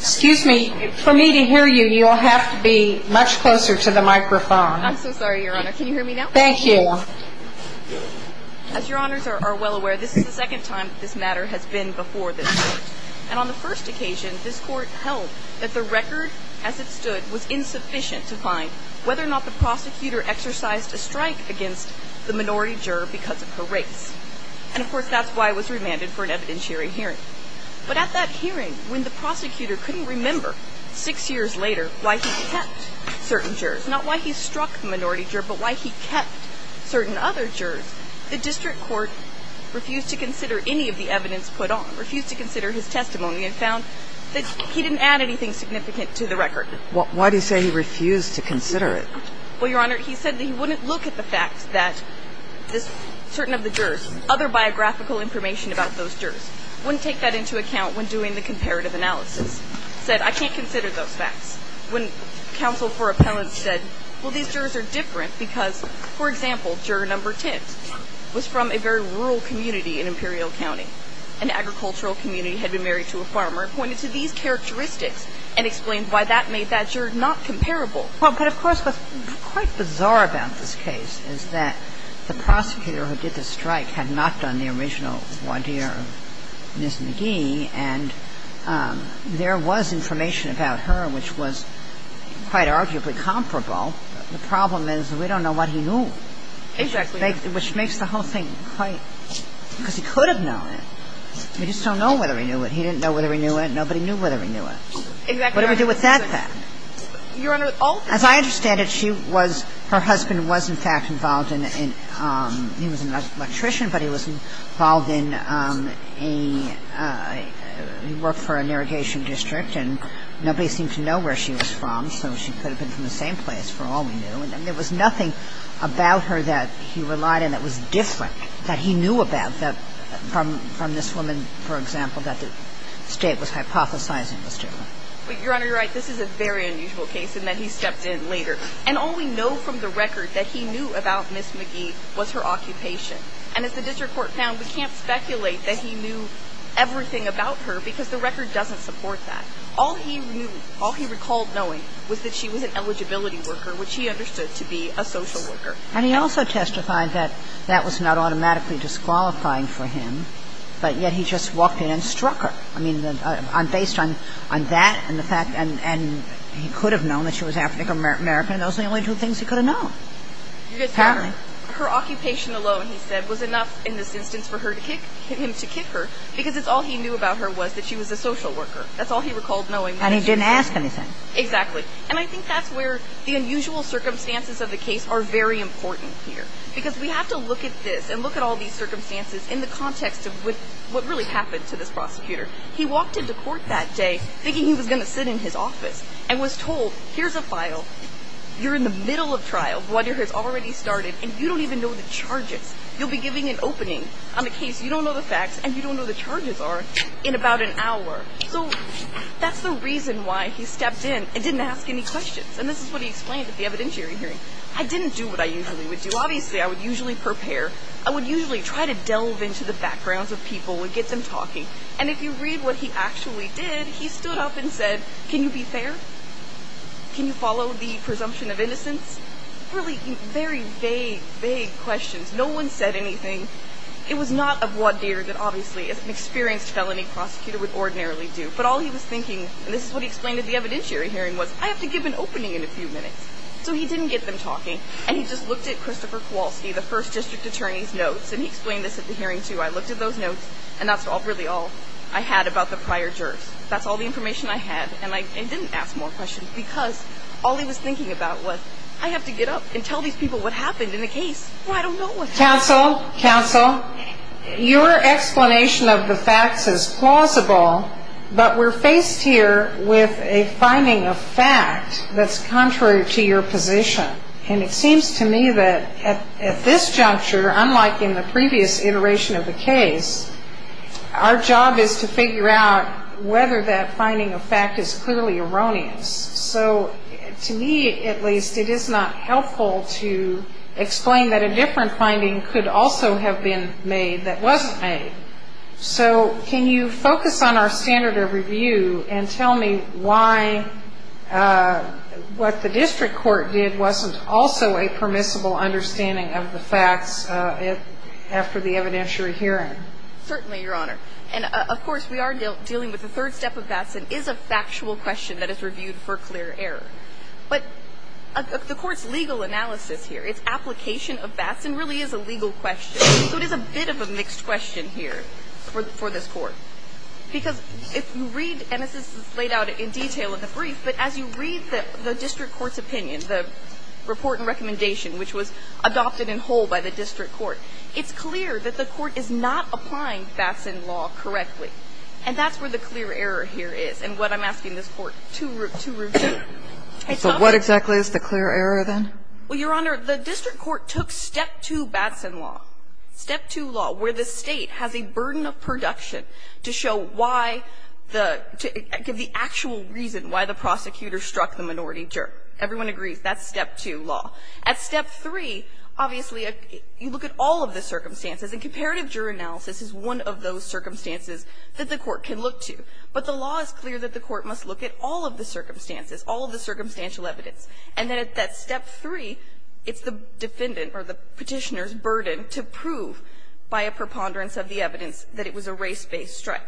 Excuse me. For me to hear you, you'll have to be much closer to the microphone. I'm so sorry, Your Honor. Can you hear me now? Thank you. As Your Honors are well aware, this is the second time that this matter has been before this Court. And on the first occasion, this Court held that the record as it stood was insufficient to find whether or not the prosecutor exercised a strike against the minority juror because of her race. And, of course, that's why it was remanded for an evidence-hearing hearing. But at that hearing, when the prosecutor couldn't remember six years later why he kept certain jurors, not why he struck the minority juror, but why he kept certain other jurors, the district court refused to consider any of the evidence put on, refused to consider his testimony and found that he didn't add anything significant to the record. Why do you say he refused to consider it? Well, Your Honor, he said that he wouldn't look at the fact that certain of the jurors, other biographical information about those jurors, wouldn't take that into account when doing the comparative analysis. He said, I can't consider those facts. When counsel for appellants said, well, these jurors are different because, for example, juror number 10 was from a very rural community in Imperial County. An agricultural community had been married to a farmer and pointed to these characteristics and explained why that made that juror not comparable. Well, but of course, what's quite bizarre about this case is that the prosecutor who did the strike had not done the original voir dire of Ms. McGee, and there was information about her which was quite arguably comparable. The problem is we don't know what he knew. Exactly. Which makes the whole thing quite – because he could have known it. We just don't know whether he knew it. He didn't know whether he knew it. Nobody knew whether he knew it. Exactly. What do we do with that fact? Well, the fact is that the state, the state was hypothesizing that Ms. McGee was a woman. The state was hypothesizing that Ms. McGee was a woman. Your Honor, all the – As I understand it, she was – her husband was, in fact, involved in – he was an electrician, but he was involved in a – he worked for an irrigation district, and nobody seemed to know where she was from, so she could have been from the same place, for all we And all we know from the record that he knew about Ms. McGee was her occupation. And as the district court found, we can't speculate that he knew everything about her because the record doesn't support that. All he knew, all he recalled knowing was that she was an eligibility worker, which he understood to be a social worker. And he also testified that that was not automatically disqualifying for him, but yet he just walked in and struck her. I mean, based on that and the fact – and he could have known that she was African American. Those are the only two things he could have known. Apparently. Your Honor, her occupation alone, he said, was enough in this instance for him to kick her because it's all he knew about her was that she was a social worker. That's all he recalled knowing. And he didn't ask anything. Exactly. And I think that's where the unusual circumstances of the case are very important here. Because we have to look at this and look at all these circumstances in the context of what really happened to this prosecutor. He walked into court that day thinking he was going to sit in his office and was told, here's a file. You're in the middle of trial. The water has already started. And you don't even know the charges. You'll be giving an opening on a case. You don't know the facts. And you don't know the charges are in about an hour. So that's the reason why he stepped in and didn't ask any questions. And this is what he explained at the evidentiary hearing. I didn't do what I usually would do. Obviously, I would usually prepare. I would usually try to delve into the backgrounds of people and get them talking. And if you read what he actually did, he stood up and said, can you be fair? Can you follow the presumption of innocence? Really very vague, vague questions. No one said anything. It was not a voir dire that obviously an experienced felony prosecutor would ordinarily do. But all he was thinking, and this is what he explained at the evidentiary hearing, was, I have to give an opening in a few minutes. So he didn't get them talking. And he just looked at Christopher Kowalski, the first district attorney's notes, and he explained this at the hearing too. I looked at those notes, and that's really all I had about the prior jurors. That's all the information I had. And I didn't ask more questions because all he was thinking about was, I have to get up and tell these people what happened in the case. Well, I don't know what happened. Counsel, counsel, your explanation of the facts is plausible, but we're faced here with a finding of fact that's contrary to your position. And it seems to me that at this juncture, unlike in the previous iteration of the case, our job is to figure out whether that finding of fact is clearly erroneous. So to me, at least, it is not helpful to explain that a different finding could also have been made that wasn't made. So can you focus on our standard of review and tell me why what the district court did wasn't also a permissible understanding of the facts after the evidentiary hearing? Certainly, Your Honor. And, of course, we are dealing with the third step of Batson, is a factual question that is reviewed for clear error. But the court's legal analysis here, its application of Batson, really is a legal question. So it is a bit of a mixed question here for this Court. Because if you read, and this is laid out in detail in the brief, but as you read the district court's opinion, the report and recommendation, which was adopted in whole by the district court, it's clear that the court is not applying Batson law correctly. And that's where the clear error here is, and what I'm asking this Court to review. So what exactly is the clear error, then? Well, Your Honor, the district court took Step 2 Batson law, Step 2 law, where the State has a burden of production to show why the actual reason why the prosecutor struck the minority juror. Everyone agrees that's Step 2 law. At Step 3, obviously, you look at all of the circumstances, and comparative juror analysis is one of those circumstances that the court can look to. But the law is clear that the court must look at all of the circumstances, all of the circumstantial evidence. And then at that Step 3, it's the defendant or the Petitioner's burden to prove by a preponderance of the evidence that it was a race-based strike.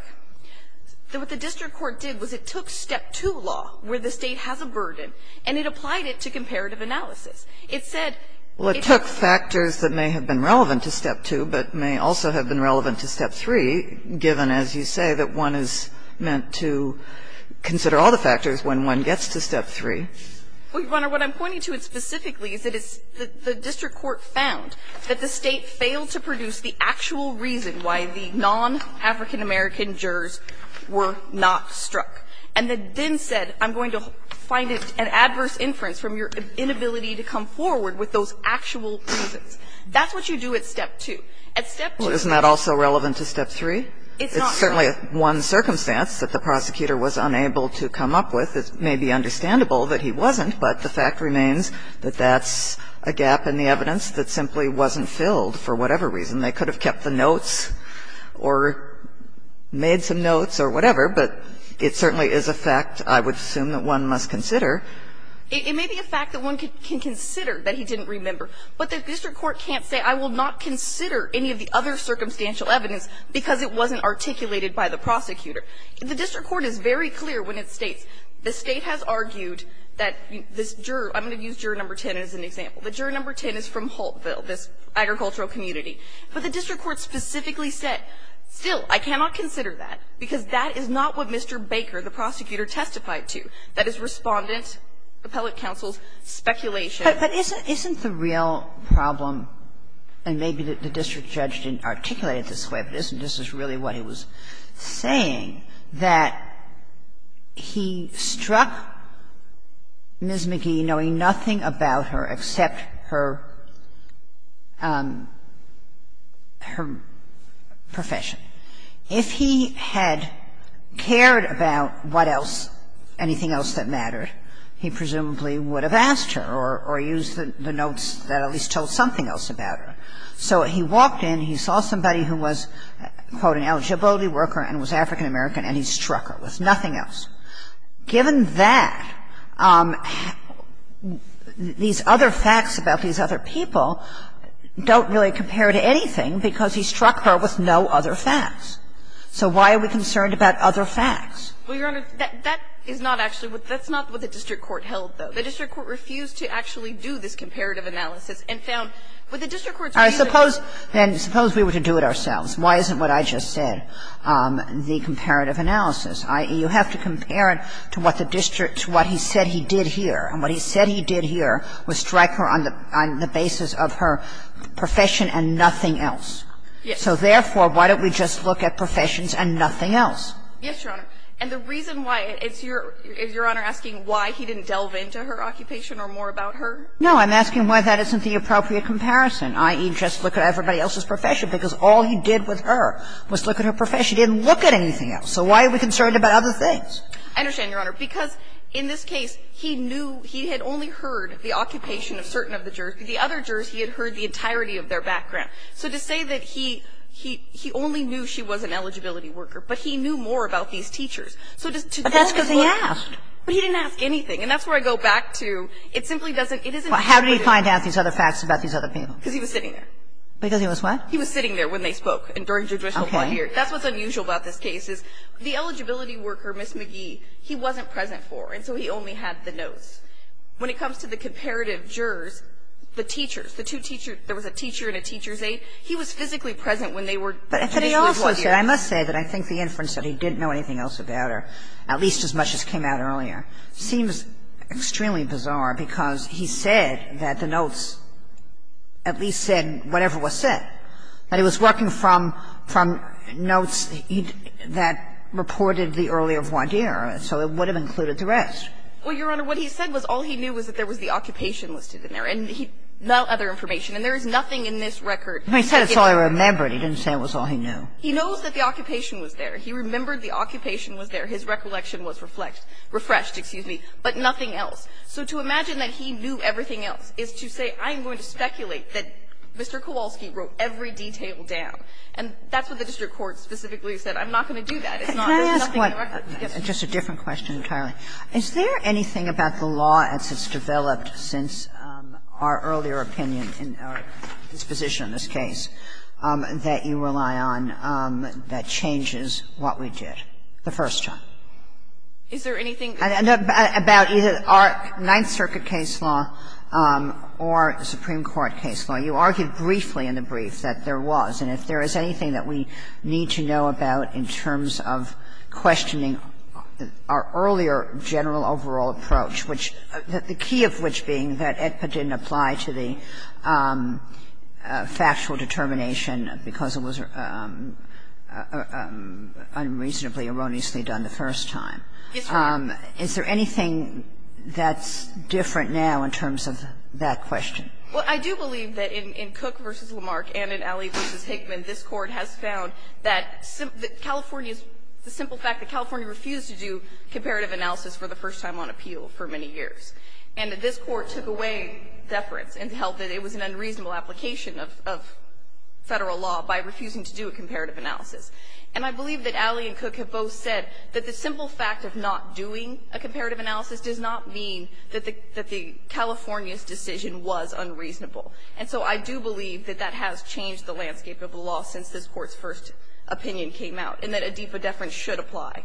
What the district court did was it took Step 2 law, where the State has a burden, and it applied it to comparative analysis. It said it took factors that may have been relevant to Step 2 but may also have been relevant to Step 3, given, as you say, that one is meant to consider all the factors when one gets to Step 3. Well, Your Honor, what I'm pointing to specifically is that it's the district court found that the State failed to produce the actual reason why the non-African-American jurors were not struck, and then said, I'm going to find it an adverse inference from your inability to come forward with those actual reasons. That's what you do at Step 2. At Step 2. Well, isn't that also relevant to Step 3? It's not. It's certainly one circumstance that the prosecutor was unable to come up with. It may be understandable that he wasn't, but the fact remains that that's a gap in the evidence that simply wasn't filled for whatever reason. They could have kept the notes or made some notes or whatever, but it certainly is a fact I would assume that one must consider. It may be a fact that one can consider that he didn't remember. But the district court can't say, I will not consider any of the other circumstantial evidence because it wasn't articulated by the prosecutor. The district court is very clear when it states the State has argued that this juror – I'm going to use juror No. 10 as an example. The juror No. 10 is from Holtville, this agricultural community. But the district court specifically said, still, I cannot consider that because that is not what Mr. Baker, the prosecutor, testified to. That is Respondent, appellate counsel's speculation. Kagan, but isn't the real problem, and maybe the district judge didn't articulate it this way, but isn't this really what he was saying, that he struck Ms. Magee knowing nothing about her except her – her profession. If he had cared about what else, anything else that mattered, he presumably would have asked her or used the notes that at least told something else about her. So he walked in, he saw somebody who was, quote, an eligibility worker and was African American, and he struck her with nothing else. Given that, these other facts about these other people don't really compare to anything because he struck her with no other facts. So why are we concerned about other facts? Well, Your Honor, that is not actually what – that's not what the district court held, though. The district court refused to actually do this comparative analysis and found what he said he did here, and what he said he did here was strike her on the basis of her profession and nothing else. So therefore, why don't we just look at professions and nothing else? Yes, Your Honor. And the reason why, is Your Honor asking why he didn't delve into her occupation or more about her? I'm asking why he didn't delve into her occupation or more about her. I understand, Your Honor, because in this case, he knew he had only heard the occupation of certain of the jurors, but the other jurors, he had heard the entirety of their background. So to say that he – he only knew she was an eligibility worker, but he knew more about these teachers. So to then look at the other jurors, he didn't ask anything, and that's where I go back to it simply doesn't – it isn't intuitive. But how did he find out these other facts about these other people? Because he was sitting there. Because he was what? He was sitting there when they spoke and during judicial point of view. That's what's unusual about this case, is the eligibility worker, Ms. McGee, he wasn't present for, and so he only had the notes. When it comes to the comparative jurors, the teachers, the two teachers – there was a teacher and a teacher's aide. He was physically present when they were – But if I may also say, I must say that I think the inference that he didn't know anything else about her, at least as much as came out earlier, seems extremely bizarre, because he said that the notes at least said whatever was said. But he was working from notes that reported the early of one year, so it would have included the rest. Well, Your Honor, what he said was all he knew was that there was the occupation listed in there, and he – no other information. And there is nothing in this record that gets him there. He said it's all he remembered. He didn't say it was all he knew. He knows that the occupation was there. He remembered the occupation was there. His recollection was reflected – refreshed, excuse me, but nothing else. So to imagine that he knew everything else is to say, I'm going to speculate that Mr. Kowalski wrote every detail down. And that's what the district court specifically said. I'm not going to do that. It's not – there's nothing in the record. Yes. Kagan. Just a different question entirely. Is there anything about the law as it's developed since our earlier opinion in our disposition in this case that you rely on that changes what we did the first time? Is there anything? About either our Ninth Circuit case law or the Supreme Court case law, you argued briefly in the brief that there was, and if there is anything that we need to know about in terms of questioning our earlier general overall approach, which – the key of which being that AEDPA didn't apply to the factual determination because it was unreasonably, erroneously done the first time. Yes, Your Honor. Is there anything that's different now in terms of that question? Well, I do believe that in Cook v. Lamarck and in Alley v. Hickman, this Court has found that California's – the simple fact that California refused to do comparative analysis for the first time on appeal for many years, and that this Court took away deference and held that it was an unreasonable application of Federal law by refusing to do a comparative analysis. And I believe that Alley and Cook have both said that the simple fact of not doing a comparative analysis does not mean that the California's decision was unreasonable. And so I do believe that that has changed the landscape of the law since this Court's first opinion came out, and that AEDPA deference should apply.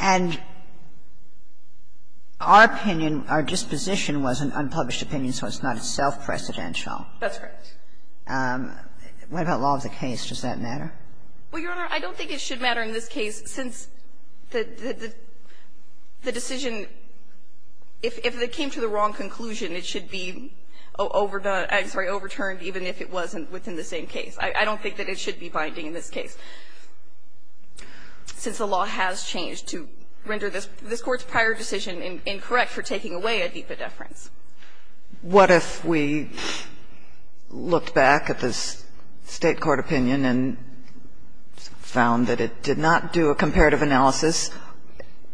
And our opinion, our disposition was an unpublished opinion, so it's not self-precedential. That's correct. What about law of the case? Does that matter? Well, Your Honor, I don't think it should matter in this case, since the decision – if it came to the wrong conclusion, it should be overturned, even if it wasn't within the same case. I don't think that it should be binding in this case, since the law has changed to render this Court's prior decision incorrect for taking away AEDPA deference. What if we looked back at this State court opinion and found that it did not do a comparative analysis?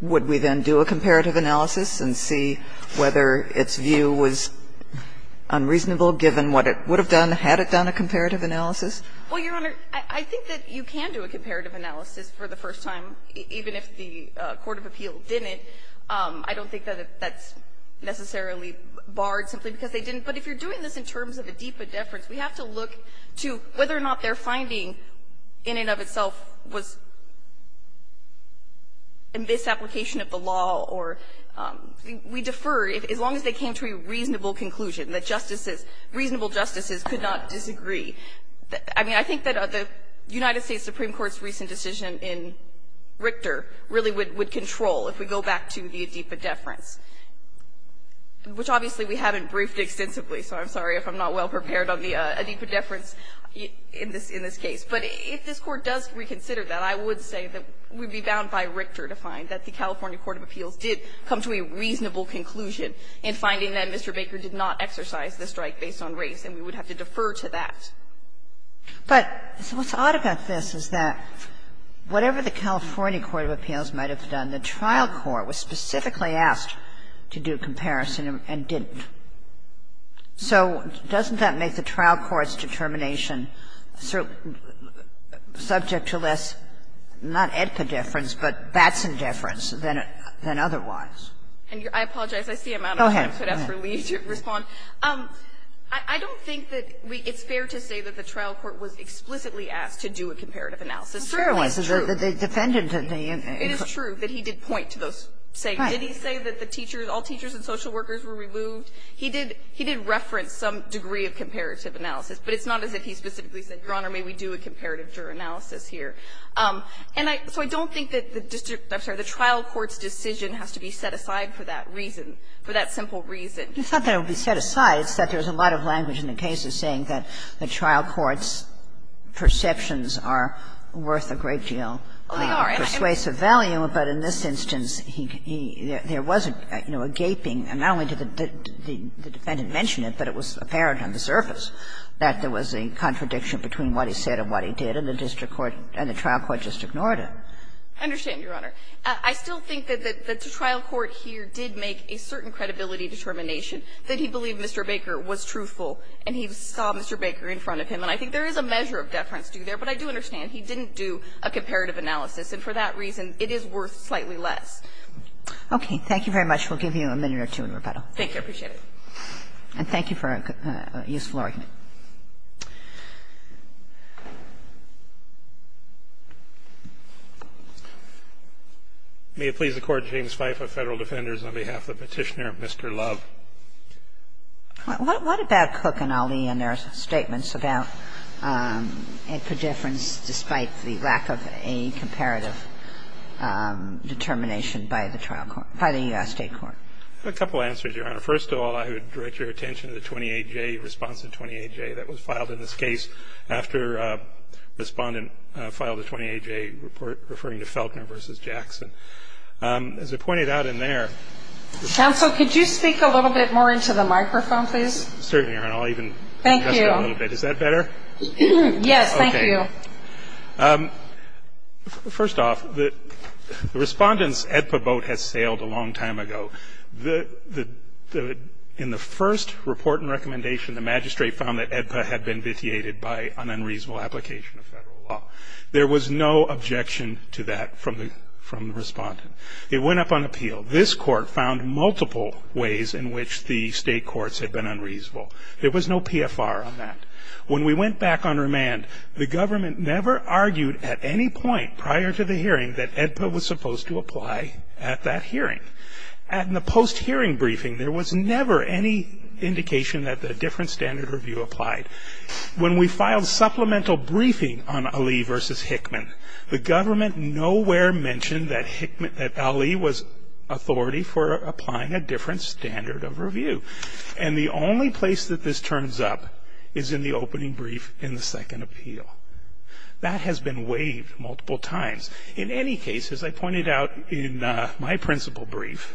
Would we then do a comparative analysis and see whether its view was unreasonable given what it would have done had it done a comparative analysis? Well, Your Honor, I think that you can do a comparative analysis for the first time, even if the court of appeal didn't. I don't think that that's necessarily barred simply because they didn't. But if you're doing this in terms of AEDPA deference, we have to look to whether or not their finding in and of itself was in misapplication of the law or we defer as long as they came to a reasonable conclusion, that justices, reasonable justices could not disagree. I mean, I think that the United States Supreme Court's recent decision in Richter really would control if we go back to the AEDPA deference, which obviously we haven't briefed extensively, so I'm sorry if I'm not well prepared on the AEDPA deference in this case. But if this Court does reconsider that, I would say that we would be bound by Richter to find that the California court of appeals did come to a reasonable conclusion in finding that Mr. Baker did not exercise the strike based on race, and we would have to defer to that. But what's odd about this is that whatever the California court of appeals might have done, the trial court was specifically asked to do a comparison and didn't. So doesn't that make the trial court's determination subject to less, not AEDPA deference, but Batson deference than otherwise? And your question? I apologize. I see a matter of time for me to respond. I don't think that it's fair to say that the trial court was explicitly asked to do a comparative analysis. It's true. It's true. It is true that he did point to those statements. Did he say that the teachers, all teachers and social workers were removed? He did reference some degree of comparative analysis, but it's not as if he specifically said, Your Honor, may we do a comparative juror analysis here. And so I don't think that the trial court's decision has to be set aside for that reason, for that simple reason. Kagan, it's not that it would be set aside. It's that there's a lot of language in the case of saying that the trial court's perceptions are worth a great deal of persuasive value, but in this instance he can be, there was a gaping, and not only did the defendant mention it, but it was apparent on the surface that there was a contradiction between what he said and what he did, and the district court and the trial court just ignored it. I understand, Your Honor. I still think that the trial court here did make a certain credibility determination that he believed Mr. Baker was truthful and he saw Mr. Baker in front of him. And I think there is a measure of deference due there, but I do understand he didn't do a comparative analysis, and for that reason it is worth slightly less. Kagan. Thank you very much. We'll give you a minute or two in rebuttal. Thank you. I appreciate it. And thank you for a useful argument. May it please the Court, James Fife of Federal Defenders, on behalf of the Petitioner of Mr. Love. What about Cook and Ali and their statements about a difference despite the lack of a comparative determination by the trial court, by the U.S. State court? I have a couple of answers, Your Honor. First of all, I would direct your attention to the 28-J response in 28-A, which value. That was filed in this case after a respondent filed a 28-J report referring to Felkner v. Jackson. As I pointed out in there. Counsel, could you speak a little bit more into the microphone, please? Certainly, Your Honor. I'll even adjust it a little bit. Is that better? Yes, thank you. First off, the respondent's AEDPA boat has sailed a long time ago. In the first report and recommendation, the magistrate found that AEDPA had been vitiated by an unreasonable application of federal law. There was no objection to that from the respondent. It went up on appeal. This court found multiple ways in which the state courts had been unreasonable. There was no PFR on that. When we went back on remand, the government never argued at any point prior to the hearing that AEDPA was supposed to apply at that hearing. In the post-hearing briefing, there was never any indication that a different standard of review applied. When we filed supplemental briefing on Ali v. Hickman, the government nowhere mentioned that Ali was authority for applying a different standard of review. And the only place that this turns up is in the opening brief in the second appeal. That has been waived multiple times. In any case, as I pointed out in my principal brief,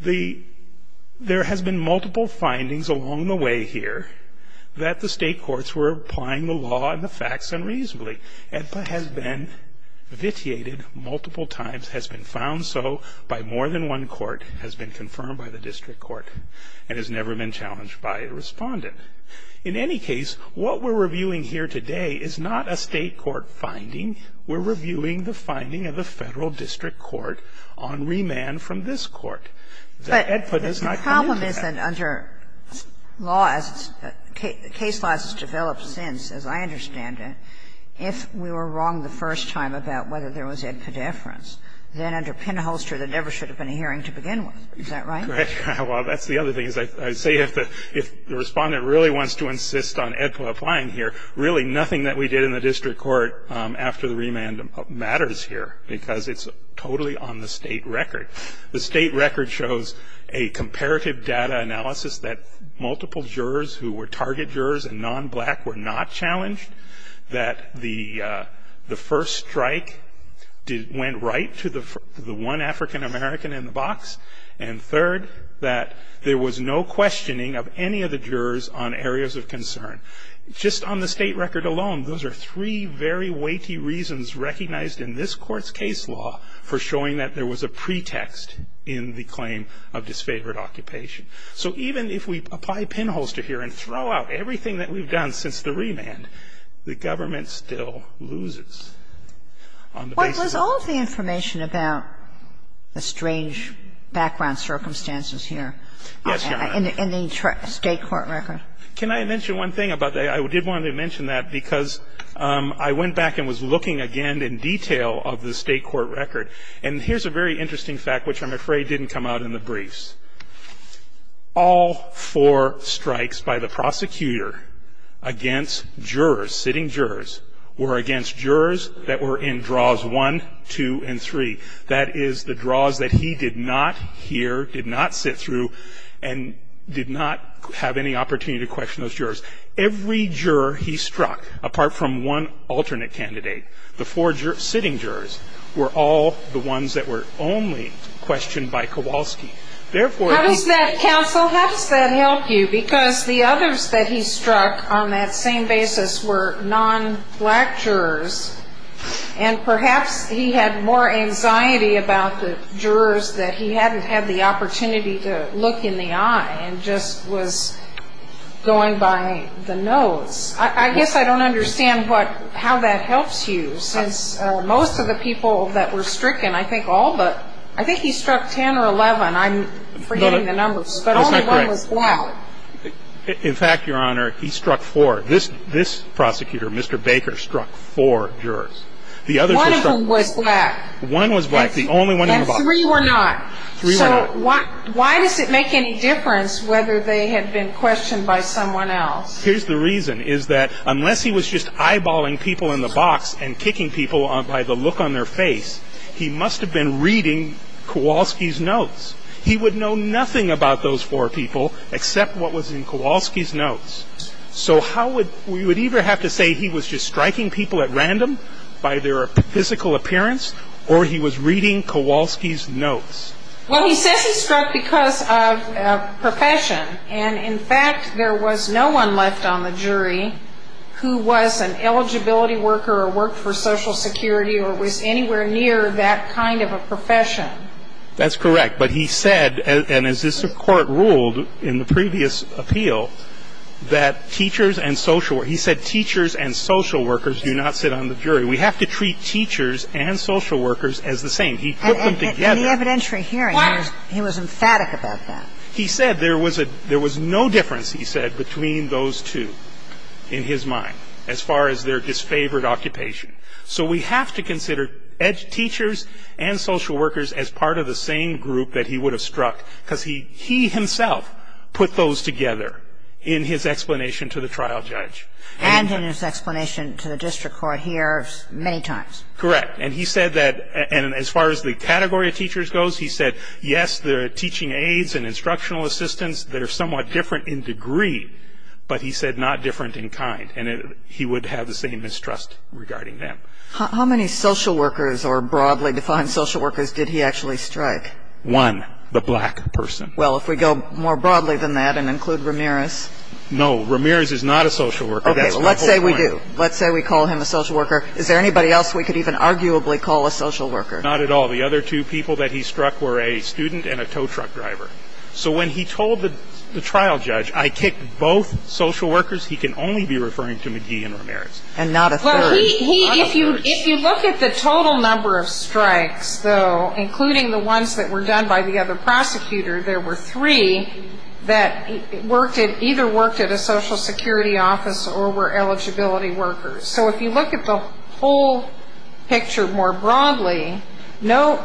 there has been multiple findings along the way here that the state courts were applying the law and the facts unreasonably. AEDPA has been vitiated multiple times, has been found so by more than one court, has been confirmed by the district court, and has never been challenged by a respondent. In any case, what we're reviewing here today is not a state court finding. We're reviewing the finding of the Federal District Court on remand from this court. That AEDPA does not come into that. Kagan. But the problem is that under law, as case laws have developed since, as I understand it, if we were wrong the first time about whether there was AEDPA deference, then under pinholster, there never should have been a hearing to begin with. Is that right? Right. Well, that's the other thing. As I say, if the respondent really wants to insist on AEDPA applying here, really nothing that we did in the district court after the remand matters here, because it's totally on the state record. The state record shows a comparative data analysis that multiple jurors who were target jurors and non-black were not challenged. That the first strike went right to the one African American in the box. And third, that there was no questioning of any of the jurors on areas of concern. Just on the state record alone, those are three very weighty reasons recognized in this Court's case law for showing that there was a pretext in the claim of disfavored occupation. So even if we apply pinholster here and throw out everything that we've done since the remand, the government still loses on the basis of that. But was all of the information about the strange background circumstances here in the state court record? Yes, Your Honor. Can I mention one thing about that? I did want to mention that because I went back and was looking again in detail of the state court record. And here's a very interesting fact, which I'm afraid didn't come out in the briefs. All four strikes by the prosecutor against jurors, sitting jurors, were against jurors that were in draws one, two, and three. That is the draws that he did not hear, did not sit through, and did not have any opportunity to question those jurors. Every juror he struck, apart from one alternate candidate, the four sitting jurors were all the ones that were only questioned by Kowalski. Therefore- How does that counsel, how does that help you? Because the others that he struck on that same basis were non-black jurors. And perhaps he had more anxiety about the jurors that he hadn't had the opportunity to look in the eye and just was going by the nose. I guess I don't understand how that helps you, since most of the people that were stricken, I think all but, I think he struck ten or eleven, I'm forgetting the numbers. But only one was black. In fact, Your Honor, he struck four. This prosecutor, Mr. Baker, struck four jurors. The others were struck- One of them was black. One was black, the only one he was- And three were not. Three were not. Why does it make any difference whether they had been questioned by someone else? Here's the reason, is that unless he was just eyeballing people in the box and kicking people by the look on their face, he must have been reading Kowalski's notes. He would know nothing about those four people except what was in Kowalski's notes. So how would, we would either have to say he was just striking people at random Well, he says he struck because of profession. And in fact, there was no one left on the jury who was an eligibility worker or worked for Social Security or was anywhere near that kind of a profession. That's correct. But he said, and as this Court ruled in the previous appeal, that teachers and social, he said teachers and social workers do not sit on the jury. We have to treat teachers and social workers as the same. He put them together. In the evidentiary hearing, he was emphatic about that. He said there was no difference, he said, between those two in his mind, as far as their disfavored occupation. So we have to consider teachers and social workers as part of the same group that he would have struck, because he himself put those together in his explanation to the trial judge. And in his explanation to the district court here many times. Correct. And he said that, and as far as the category of teachers goes, he said, yes, the teaching aides and instructional assistants, they're somewhat different in degree, but he said not different in kind. And he would have the same mistrust regarding them. How many social workers or broadly defined social workers did he actually strike? One, the black person. Well, if we go more broadly than that and include Ramirez. No, Ramirez is not a social worker. Okay, well let's say we do. Let's say we call him a social worker. Is there anybody else we could even arguably call a social worker? Not at all. The other two people that he struck were a student and a tow truck driver. So when he told the trial judge, I kicked both social workers, he can only be referring to McGee and Ramirez. And not a third. Well, he, if you, if you look at the total number of strikes, though, including the ones that were done by the other prosecutor, there were three that worked at, either worked at a social security office or were eligibility workers. So if you look at the whole picture more broadly, no,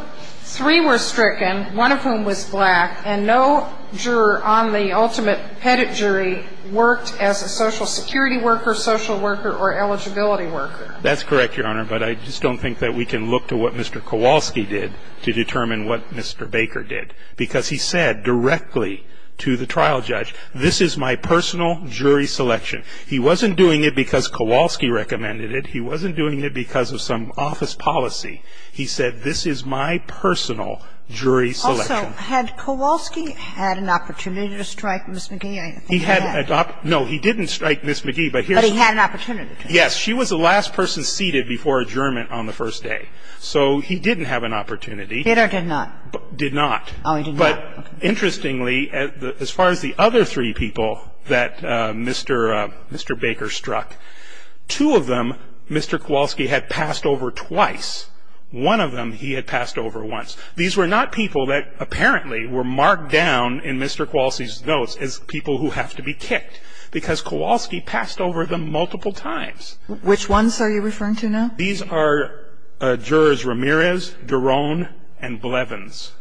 three were stricken, one of whom was black, and no juror on the ultimate pedigree worked as a social security worker, social worker, or eligibility worker. That's correct, Your Honor, but I just don't think that we can look to what Mr. Kowalski did to determine what Mr. Baker did. Because he said directly to the trial judge, this is my personal jury selection. He wasn't doing it because Kowalski recommended it. He wasn't doing it because of some office policy. He said, this is my personal jury selection. Also, had Kowalski had an opportunity to strike Ms. McGee? I don't think he had. He had, no, he didn't strike Ms. McGee, but here's the thing. But he had an opportunity to. Yes, she was the last person seated before adjournment on the first day. So he didn't have an opportunity. Did or did not? Did not. Oh, he did not. But interestingly, as far as the other three people that Mr. Baker struck, two of them Mr. Kowalski had passed over twice. One of them he had passed over once. These were not people that apparently were marked down in Mr. Kowalski's notes as people who have to be kicked. Because Kowalski passed over them multiple times. Which ones are you referring to now? These are jurors Ramirez, Doron, and Blevins.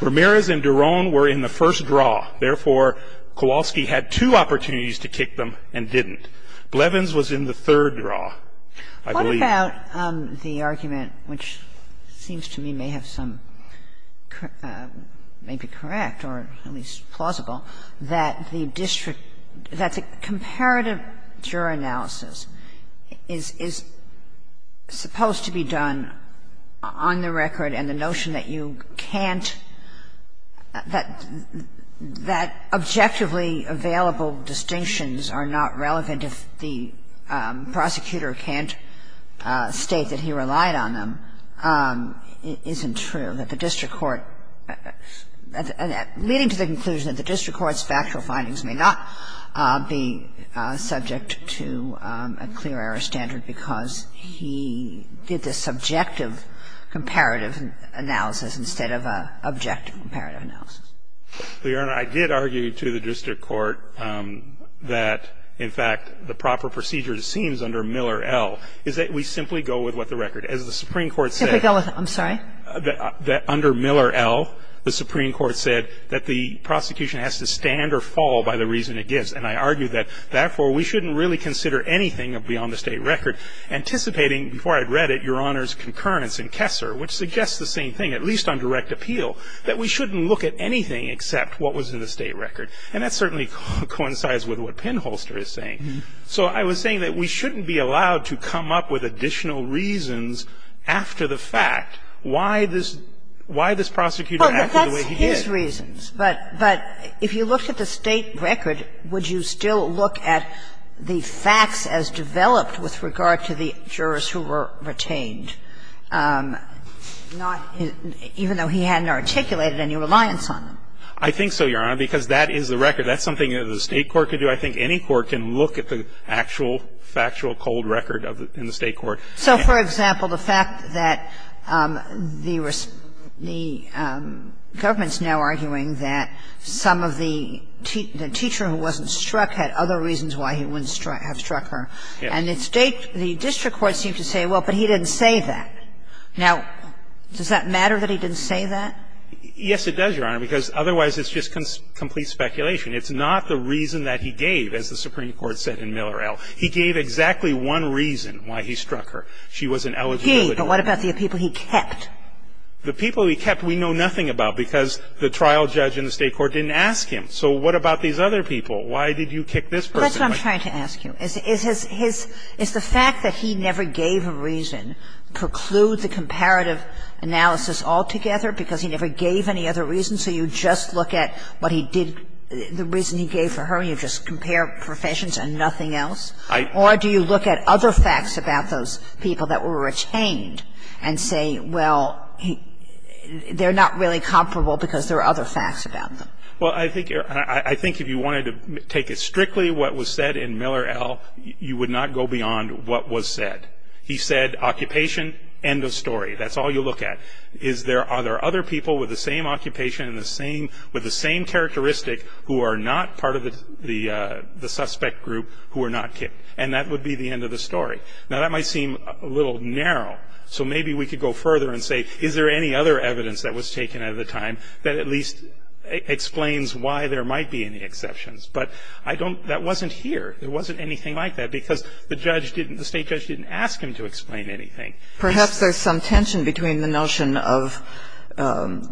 Ramirez and Doron were in the first draw. Therefore, Kowalski had two opportunities to kick them and didn't. Blevins was in the third draw, I believe. What about the argument, which seems to me may have some may be correct or at least possible, that the district, that the comparative juror analysis is supposed to be done on the record, and the notion that you can't, that objectively available distinctions are not relevant if the prosecutor can't state that he relied on them isn't true, that the district court, leading to the conclusion that the district court's factual findings may not be subject to a clear error standard because he did this subjective comparative analysis instead of an objective comparative analysis? Your Honor, I did argue to the district court that, in fact, the proper procedure it seems under Miller, L, is that we simply go with what the record. As the Supreme Court said that under Miller, L, the Supreme Court said that the prosecution has to stand or fall by the reason it gives. And I argued that, therefore, we shouldn't really consider anything beyond the state record, anticipating, before I'd read it, Your Honor's concurrence in Kessler, which suggests the same thing, at least on direct appeal, that we shouldn't look at anything except what was in the state record. And that certainly coincides with what Penholster is saying. So I was saying that we shouldn't be allowed to come up with additional reasons after the fact why this prosecutor acted the way he did. But if you looked at the state record, would you still look at the facts as developed with regard to the jurors who were retained, not his – even though he hadn't articulated any reliance on them? I think so, Your Honor, because that is the record. That's something the state court could do. I think any court can look at the actual factual cold record in the state court. So, for example, the fact that the government's now arguing that some of the teacher who wasn't struck had other reasons why he wouldn't have struck her, and the district court seemed to say, well, but he didn't say that. Now, does that matter that he didn't say that? Yes, it does, Your Honor, because otherwise it's just complete speculation. It's not the reason that he gave, as the Supreme Court said in Miller L. He gave exactly one reason why he struck her. She was an eligible individual. But what about the people he kept? The people he kept we know nothing about, because the trial judge in the state court didn't ask him. So what about these other people? Why did you kick this person? Well, that's what I'm trying to ask you. Is his – is the fact that he never gave a reason preclude the comparative analysis altogether, because he never gave any other reason? So you just look at what he did – the reason he gave for her, and you just compare professions and nothing else? Or do you look at other facts about those people that were retained and say, well, they're not really comparable because there are other facts about them? Well, I think you're – I think if you wanted to take as strictly what was said in Miller L., you would not go beyond what was said. He said, occupation, end of story. That's all you look at. Is there – are there other people with the same occupation and the same – with are not part of the – the suspect group who were not kicked? And that would be the end of the story. Now, that might seem a little narrow. So maybe we could go further and say, is there any other evidence that was taken at the time that at least explains why there might be any exceptions? But I don't – that wasn't here. There wasn't anything like that, because the judge didn't – the state judge didn't ask him to explain anything. Perhaps there's some tension between the notion of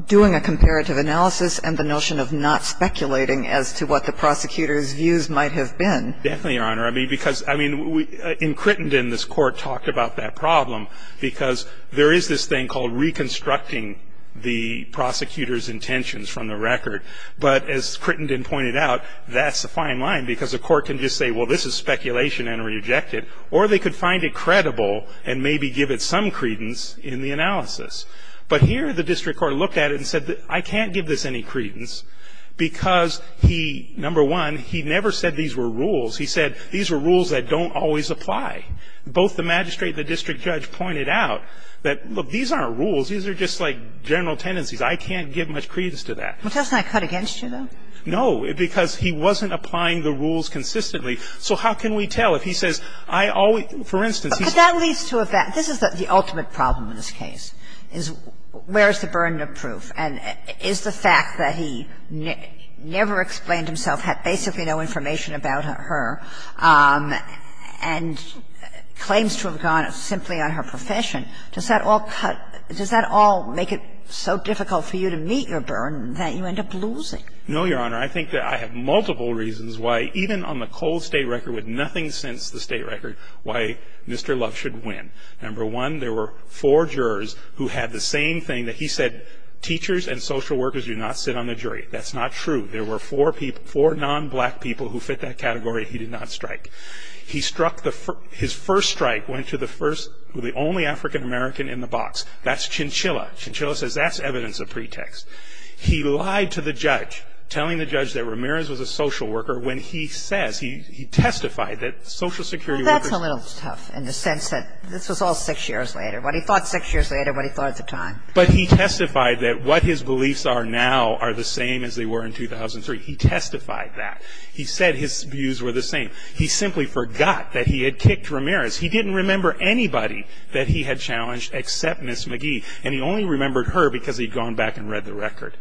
doing a comparative analysis and the notion of not speculating as to what the prosecutor's views might have been. Definitely, Your Honor. I mean, because – I mean, in Crittenden, this Court talked about that problem, because there is this thing called reconstructing the prosecutor's intentions from the record. But as Crittenden pointed out, that's a fine line, because the Court can just say, well, this is speculation and reject it. Or they could find it credible and maybe give it some credence in the analysis. But here the district court looked at it and said, I can't give this any credence, because he – number one, he never said these were rules. He said these were rules that don't always apply. Both the magistrate and the district judge pointed out that, look, these aren't rules. These are just like general tendencies. I can't give much credence to that. Well, doesn't that cut against you, though? No, because he wasn't applying the rules consistently. So how can we tell? If he says, I always – for instance, he said – But that leads to a fact. This is the ultimate problem in this case. Where is the burden of proof? And is the fact that he never explained himself, had basically no information about her, and claims to have gone simply on her profession, does that all cut – does that all make it so difficult for you to meet your burden that you end up losing? No, Your Honor. I think that I have multiple reasons why, even on the cold State record with nothing since the State record, why Mr. Luff should win. Number one, there were four jurors who had the same thing that he said, teachers and social workers do not sit on the jury. That's not true. There were four people – four non-black people who fit that category. He did not strike. He struck the – his first strike went to the first – the only African American in the box. That's Chinchilla. Chinchilla says that's evidence of pretext. He lied to the judge, telling the judge that Ramirez was a social worker, when he says – he testified that social security workers – This was all six years later, what he thought six years later, what he thought at the time. But he testified that what his beliefs are now are the same as they were in 2003. He testified that. He said his views were the same. He simply forgot that he had kicked Ramirez. He didn't remember anybody that he had challenged except Ms. McGee, and he only remembered her because he'd gone back and read the record.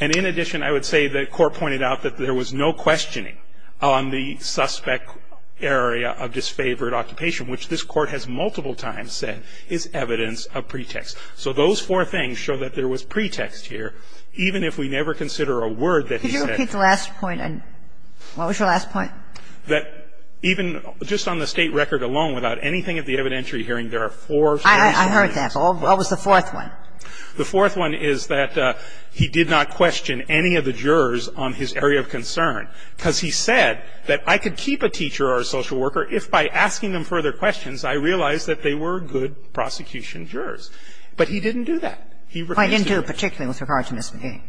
And in addition, I would say the Court pointed out that there was no questioning on the suspect area of disfavored occupation, which this Court has multiple times said is evidence of pretext. So those four things show that there was pretext here, even if we never consider a word that he said – Could you repeat the last point? What was your last point? That even just on the State record alone, without anything at the evidentiary hearing, there are four – I heard that. What was the fourth one? The fourth one is that he did not question any of the jurors on his area of concern, because he said that I could keep a teacher or a social worker if by asking them further questions I realized that they were good prosecution jurors. But he didn't do that. He refused to do that. I didn't do it particularly with regard to Ms. McGee.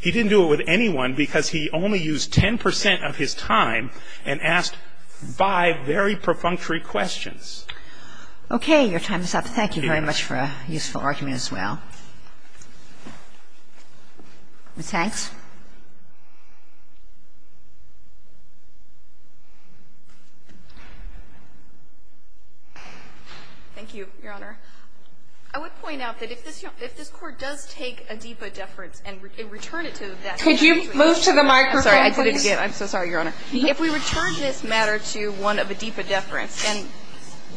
He didn't do it with anyone because he only used 10 percent of his time and asked five very perfunctory questions. Okay. Your time is up. Thank you very much for a useful argument as well. Ms. Hanks. Thank you, Your Honor. I would point out that if this – if this Court does take a DEPA deference and return it to that – Could you move to the microphone, please? I'm sorry. I did it again. I'm so sorry, Your Honor. If we return this matter to one of a DEPA deference and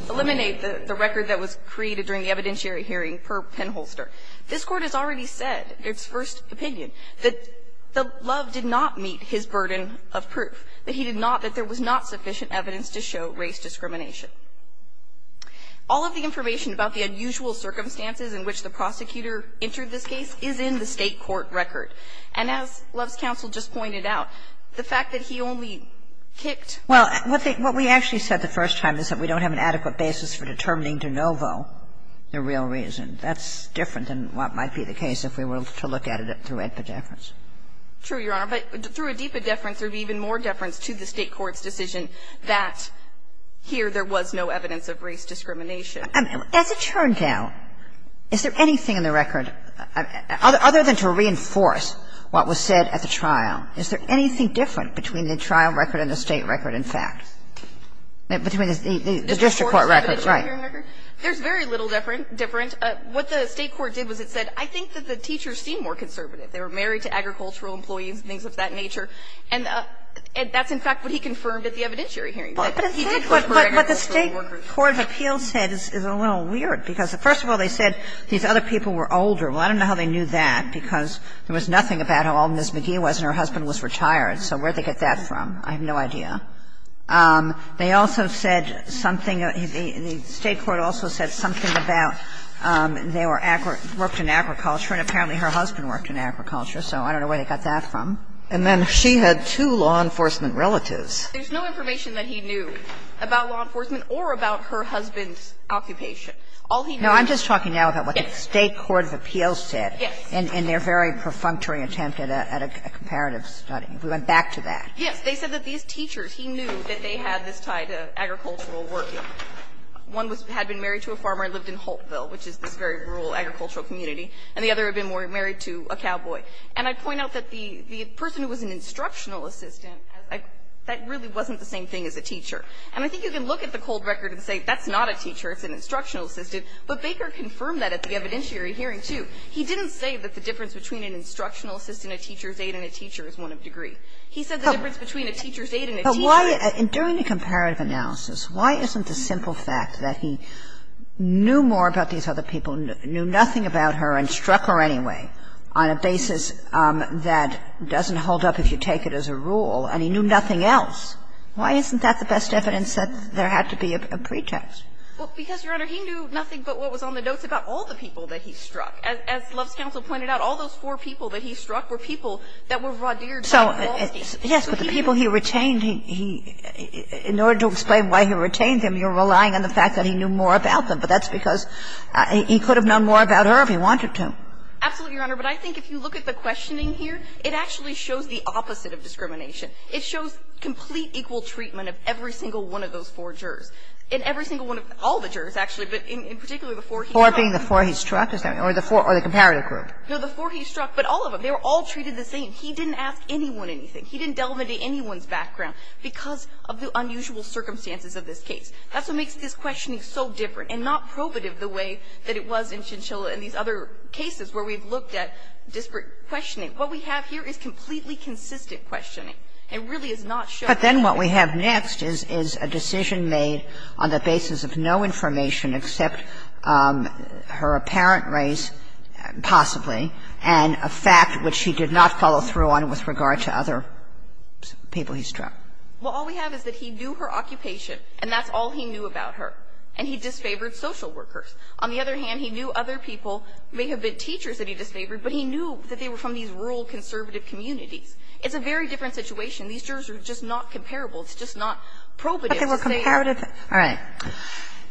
eliminate the – the record that was created during the evidentiary hearing per penholster, this Court has already said its first opinion. That Love did not meet his burden of proof, that he did not – that there was not sufficient evidence to show race discrimination. All of the information about the unusual circumstances in which the prosecutor entered this case is in the State court record. And as Love's counsel just pointed out, the fact that he only kicked – Well, what we actually said the first time is that we don't have an adequate basis for determining de novo the real reason. That's different than what might be the case if we were to look at it through a deference. True, Your Honor. But through a DEPA deference, there would be even more deference to the State court's decision that here there was no evidence of race discrimination. As it turns out, is there anything in the record, other than to reinforce what was said at the trial, is there anything different between the trial record and the State record, in fact, between the district court records? Right. There's very little different. What the State court did was it said, I think that the teachers seem more conservative. They were married to agricultural employees and things of that nature. And that's, in fact, what he confirmed at the evidentiary hearing. But he did put more evidence for the workers. But what the State court of appeals said is a little weird, because first of all, they said these other people were older. Well, I don't know how they knew that, because there was nothing about how old Ms. McGee was and her husband was retired. So where did they get that from? I have no idea. They also said something, the State court also said something about they were agri or worked in agriculture, and apparently her husband worked in agriculture. So I don't know where they got that from. And then she had two law enforcement relatives. There's no information that he knew about law enforcement or about her husband's All he knew was that he was married to an agricultural employee. No, I'm just talking now about what the State court of appeals said in their very perfunctory attempt at a comparative study. We went back to that. Yes, they said that these teachers, he knew that they had this tie to agricultural working. One had been married to a farmer and lived in Holtville, which is this very rural agricultural community, and the other had been married to a cowboy. And I'd point out that the person who was an instructional assistant, that really wasn't the same thing as a teacher. And I think you can look at the cold record and say that's not a teacher, it's an instructional assistant, but Baker confirmed that at the evidentiary hearing, too. He didn't say that the difference between an instructional assistant, a teacher's aide, and a teacher is one of degree. He said the difference between a teacher's aide and a teacher is one of degree. Kagan. But why, during the comparative analysis, why isn't the simple fact that he knew more about these other people, knew nothing about her, and struck her anyway on a basis that doesn't hold up if you take it as a rule, and he knew nothing else, why isn't that the best evidence that there had to be a pretext? Well, because, Your Honor, he knew nothing but what was on the notes about all the people that he struck. As Love's counsel pointed out, all those four people that he struck were people that were raudiered by law. So, yes, but the people he retained, he – in order to explain why he retained them, you're relying on the fact that he knew more about them, but that's because he could have known more about her if he wanted to. Absolutely, Your Honor, but I think if you look at the questioning here, it actually shows the opposite of discrimination. It shows complete equal treatment of every single one of those four jurors. And every single one of – all the jurors, actually, but in particular the four he struck. Four being the four he struck, is that what you're saying, or the four – or the comparative group? No, the four he struck, but all of them, they were all treated the same. He didn't ask anyone anything. He didn't delve into anyone's background because of the unusual circumstances of this case. That's what makes this questioning so different and not probative the way that it was in Chinchilla and these other cases where we've looked at disparate questioning. What we have here is completely consistent questioning. It really is not showing anything. But then what we have next is a decision made on the basis of no information except her apparent race, possibly, and a fact which he did not follow through on with regard to other people he struck. Well, all we have is that he knew her occupation, and that's all he knew about her, and he disfavored social workers. On the other hand, he knew other people, may have been teachers that he disfavored, but he knew that they were from these rural conservative communities. It's a very different situation. These jurors are just not comparable. It's just not probative to say that. But they were comparative. All right.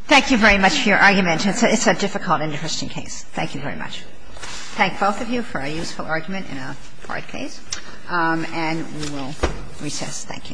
Thank you very much for your argument. It's a difficult and interesting case. Thank you very much. Thank both of you for a useful argument in a broad case. And we will recess. Thank you.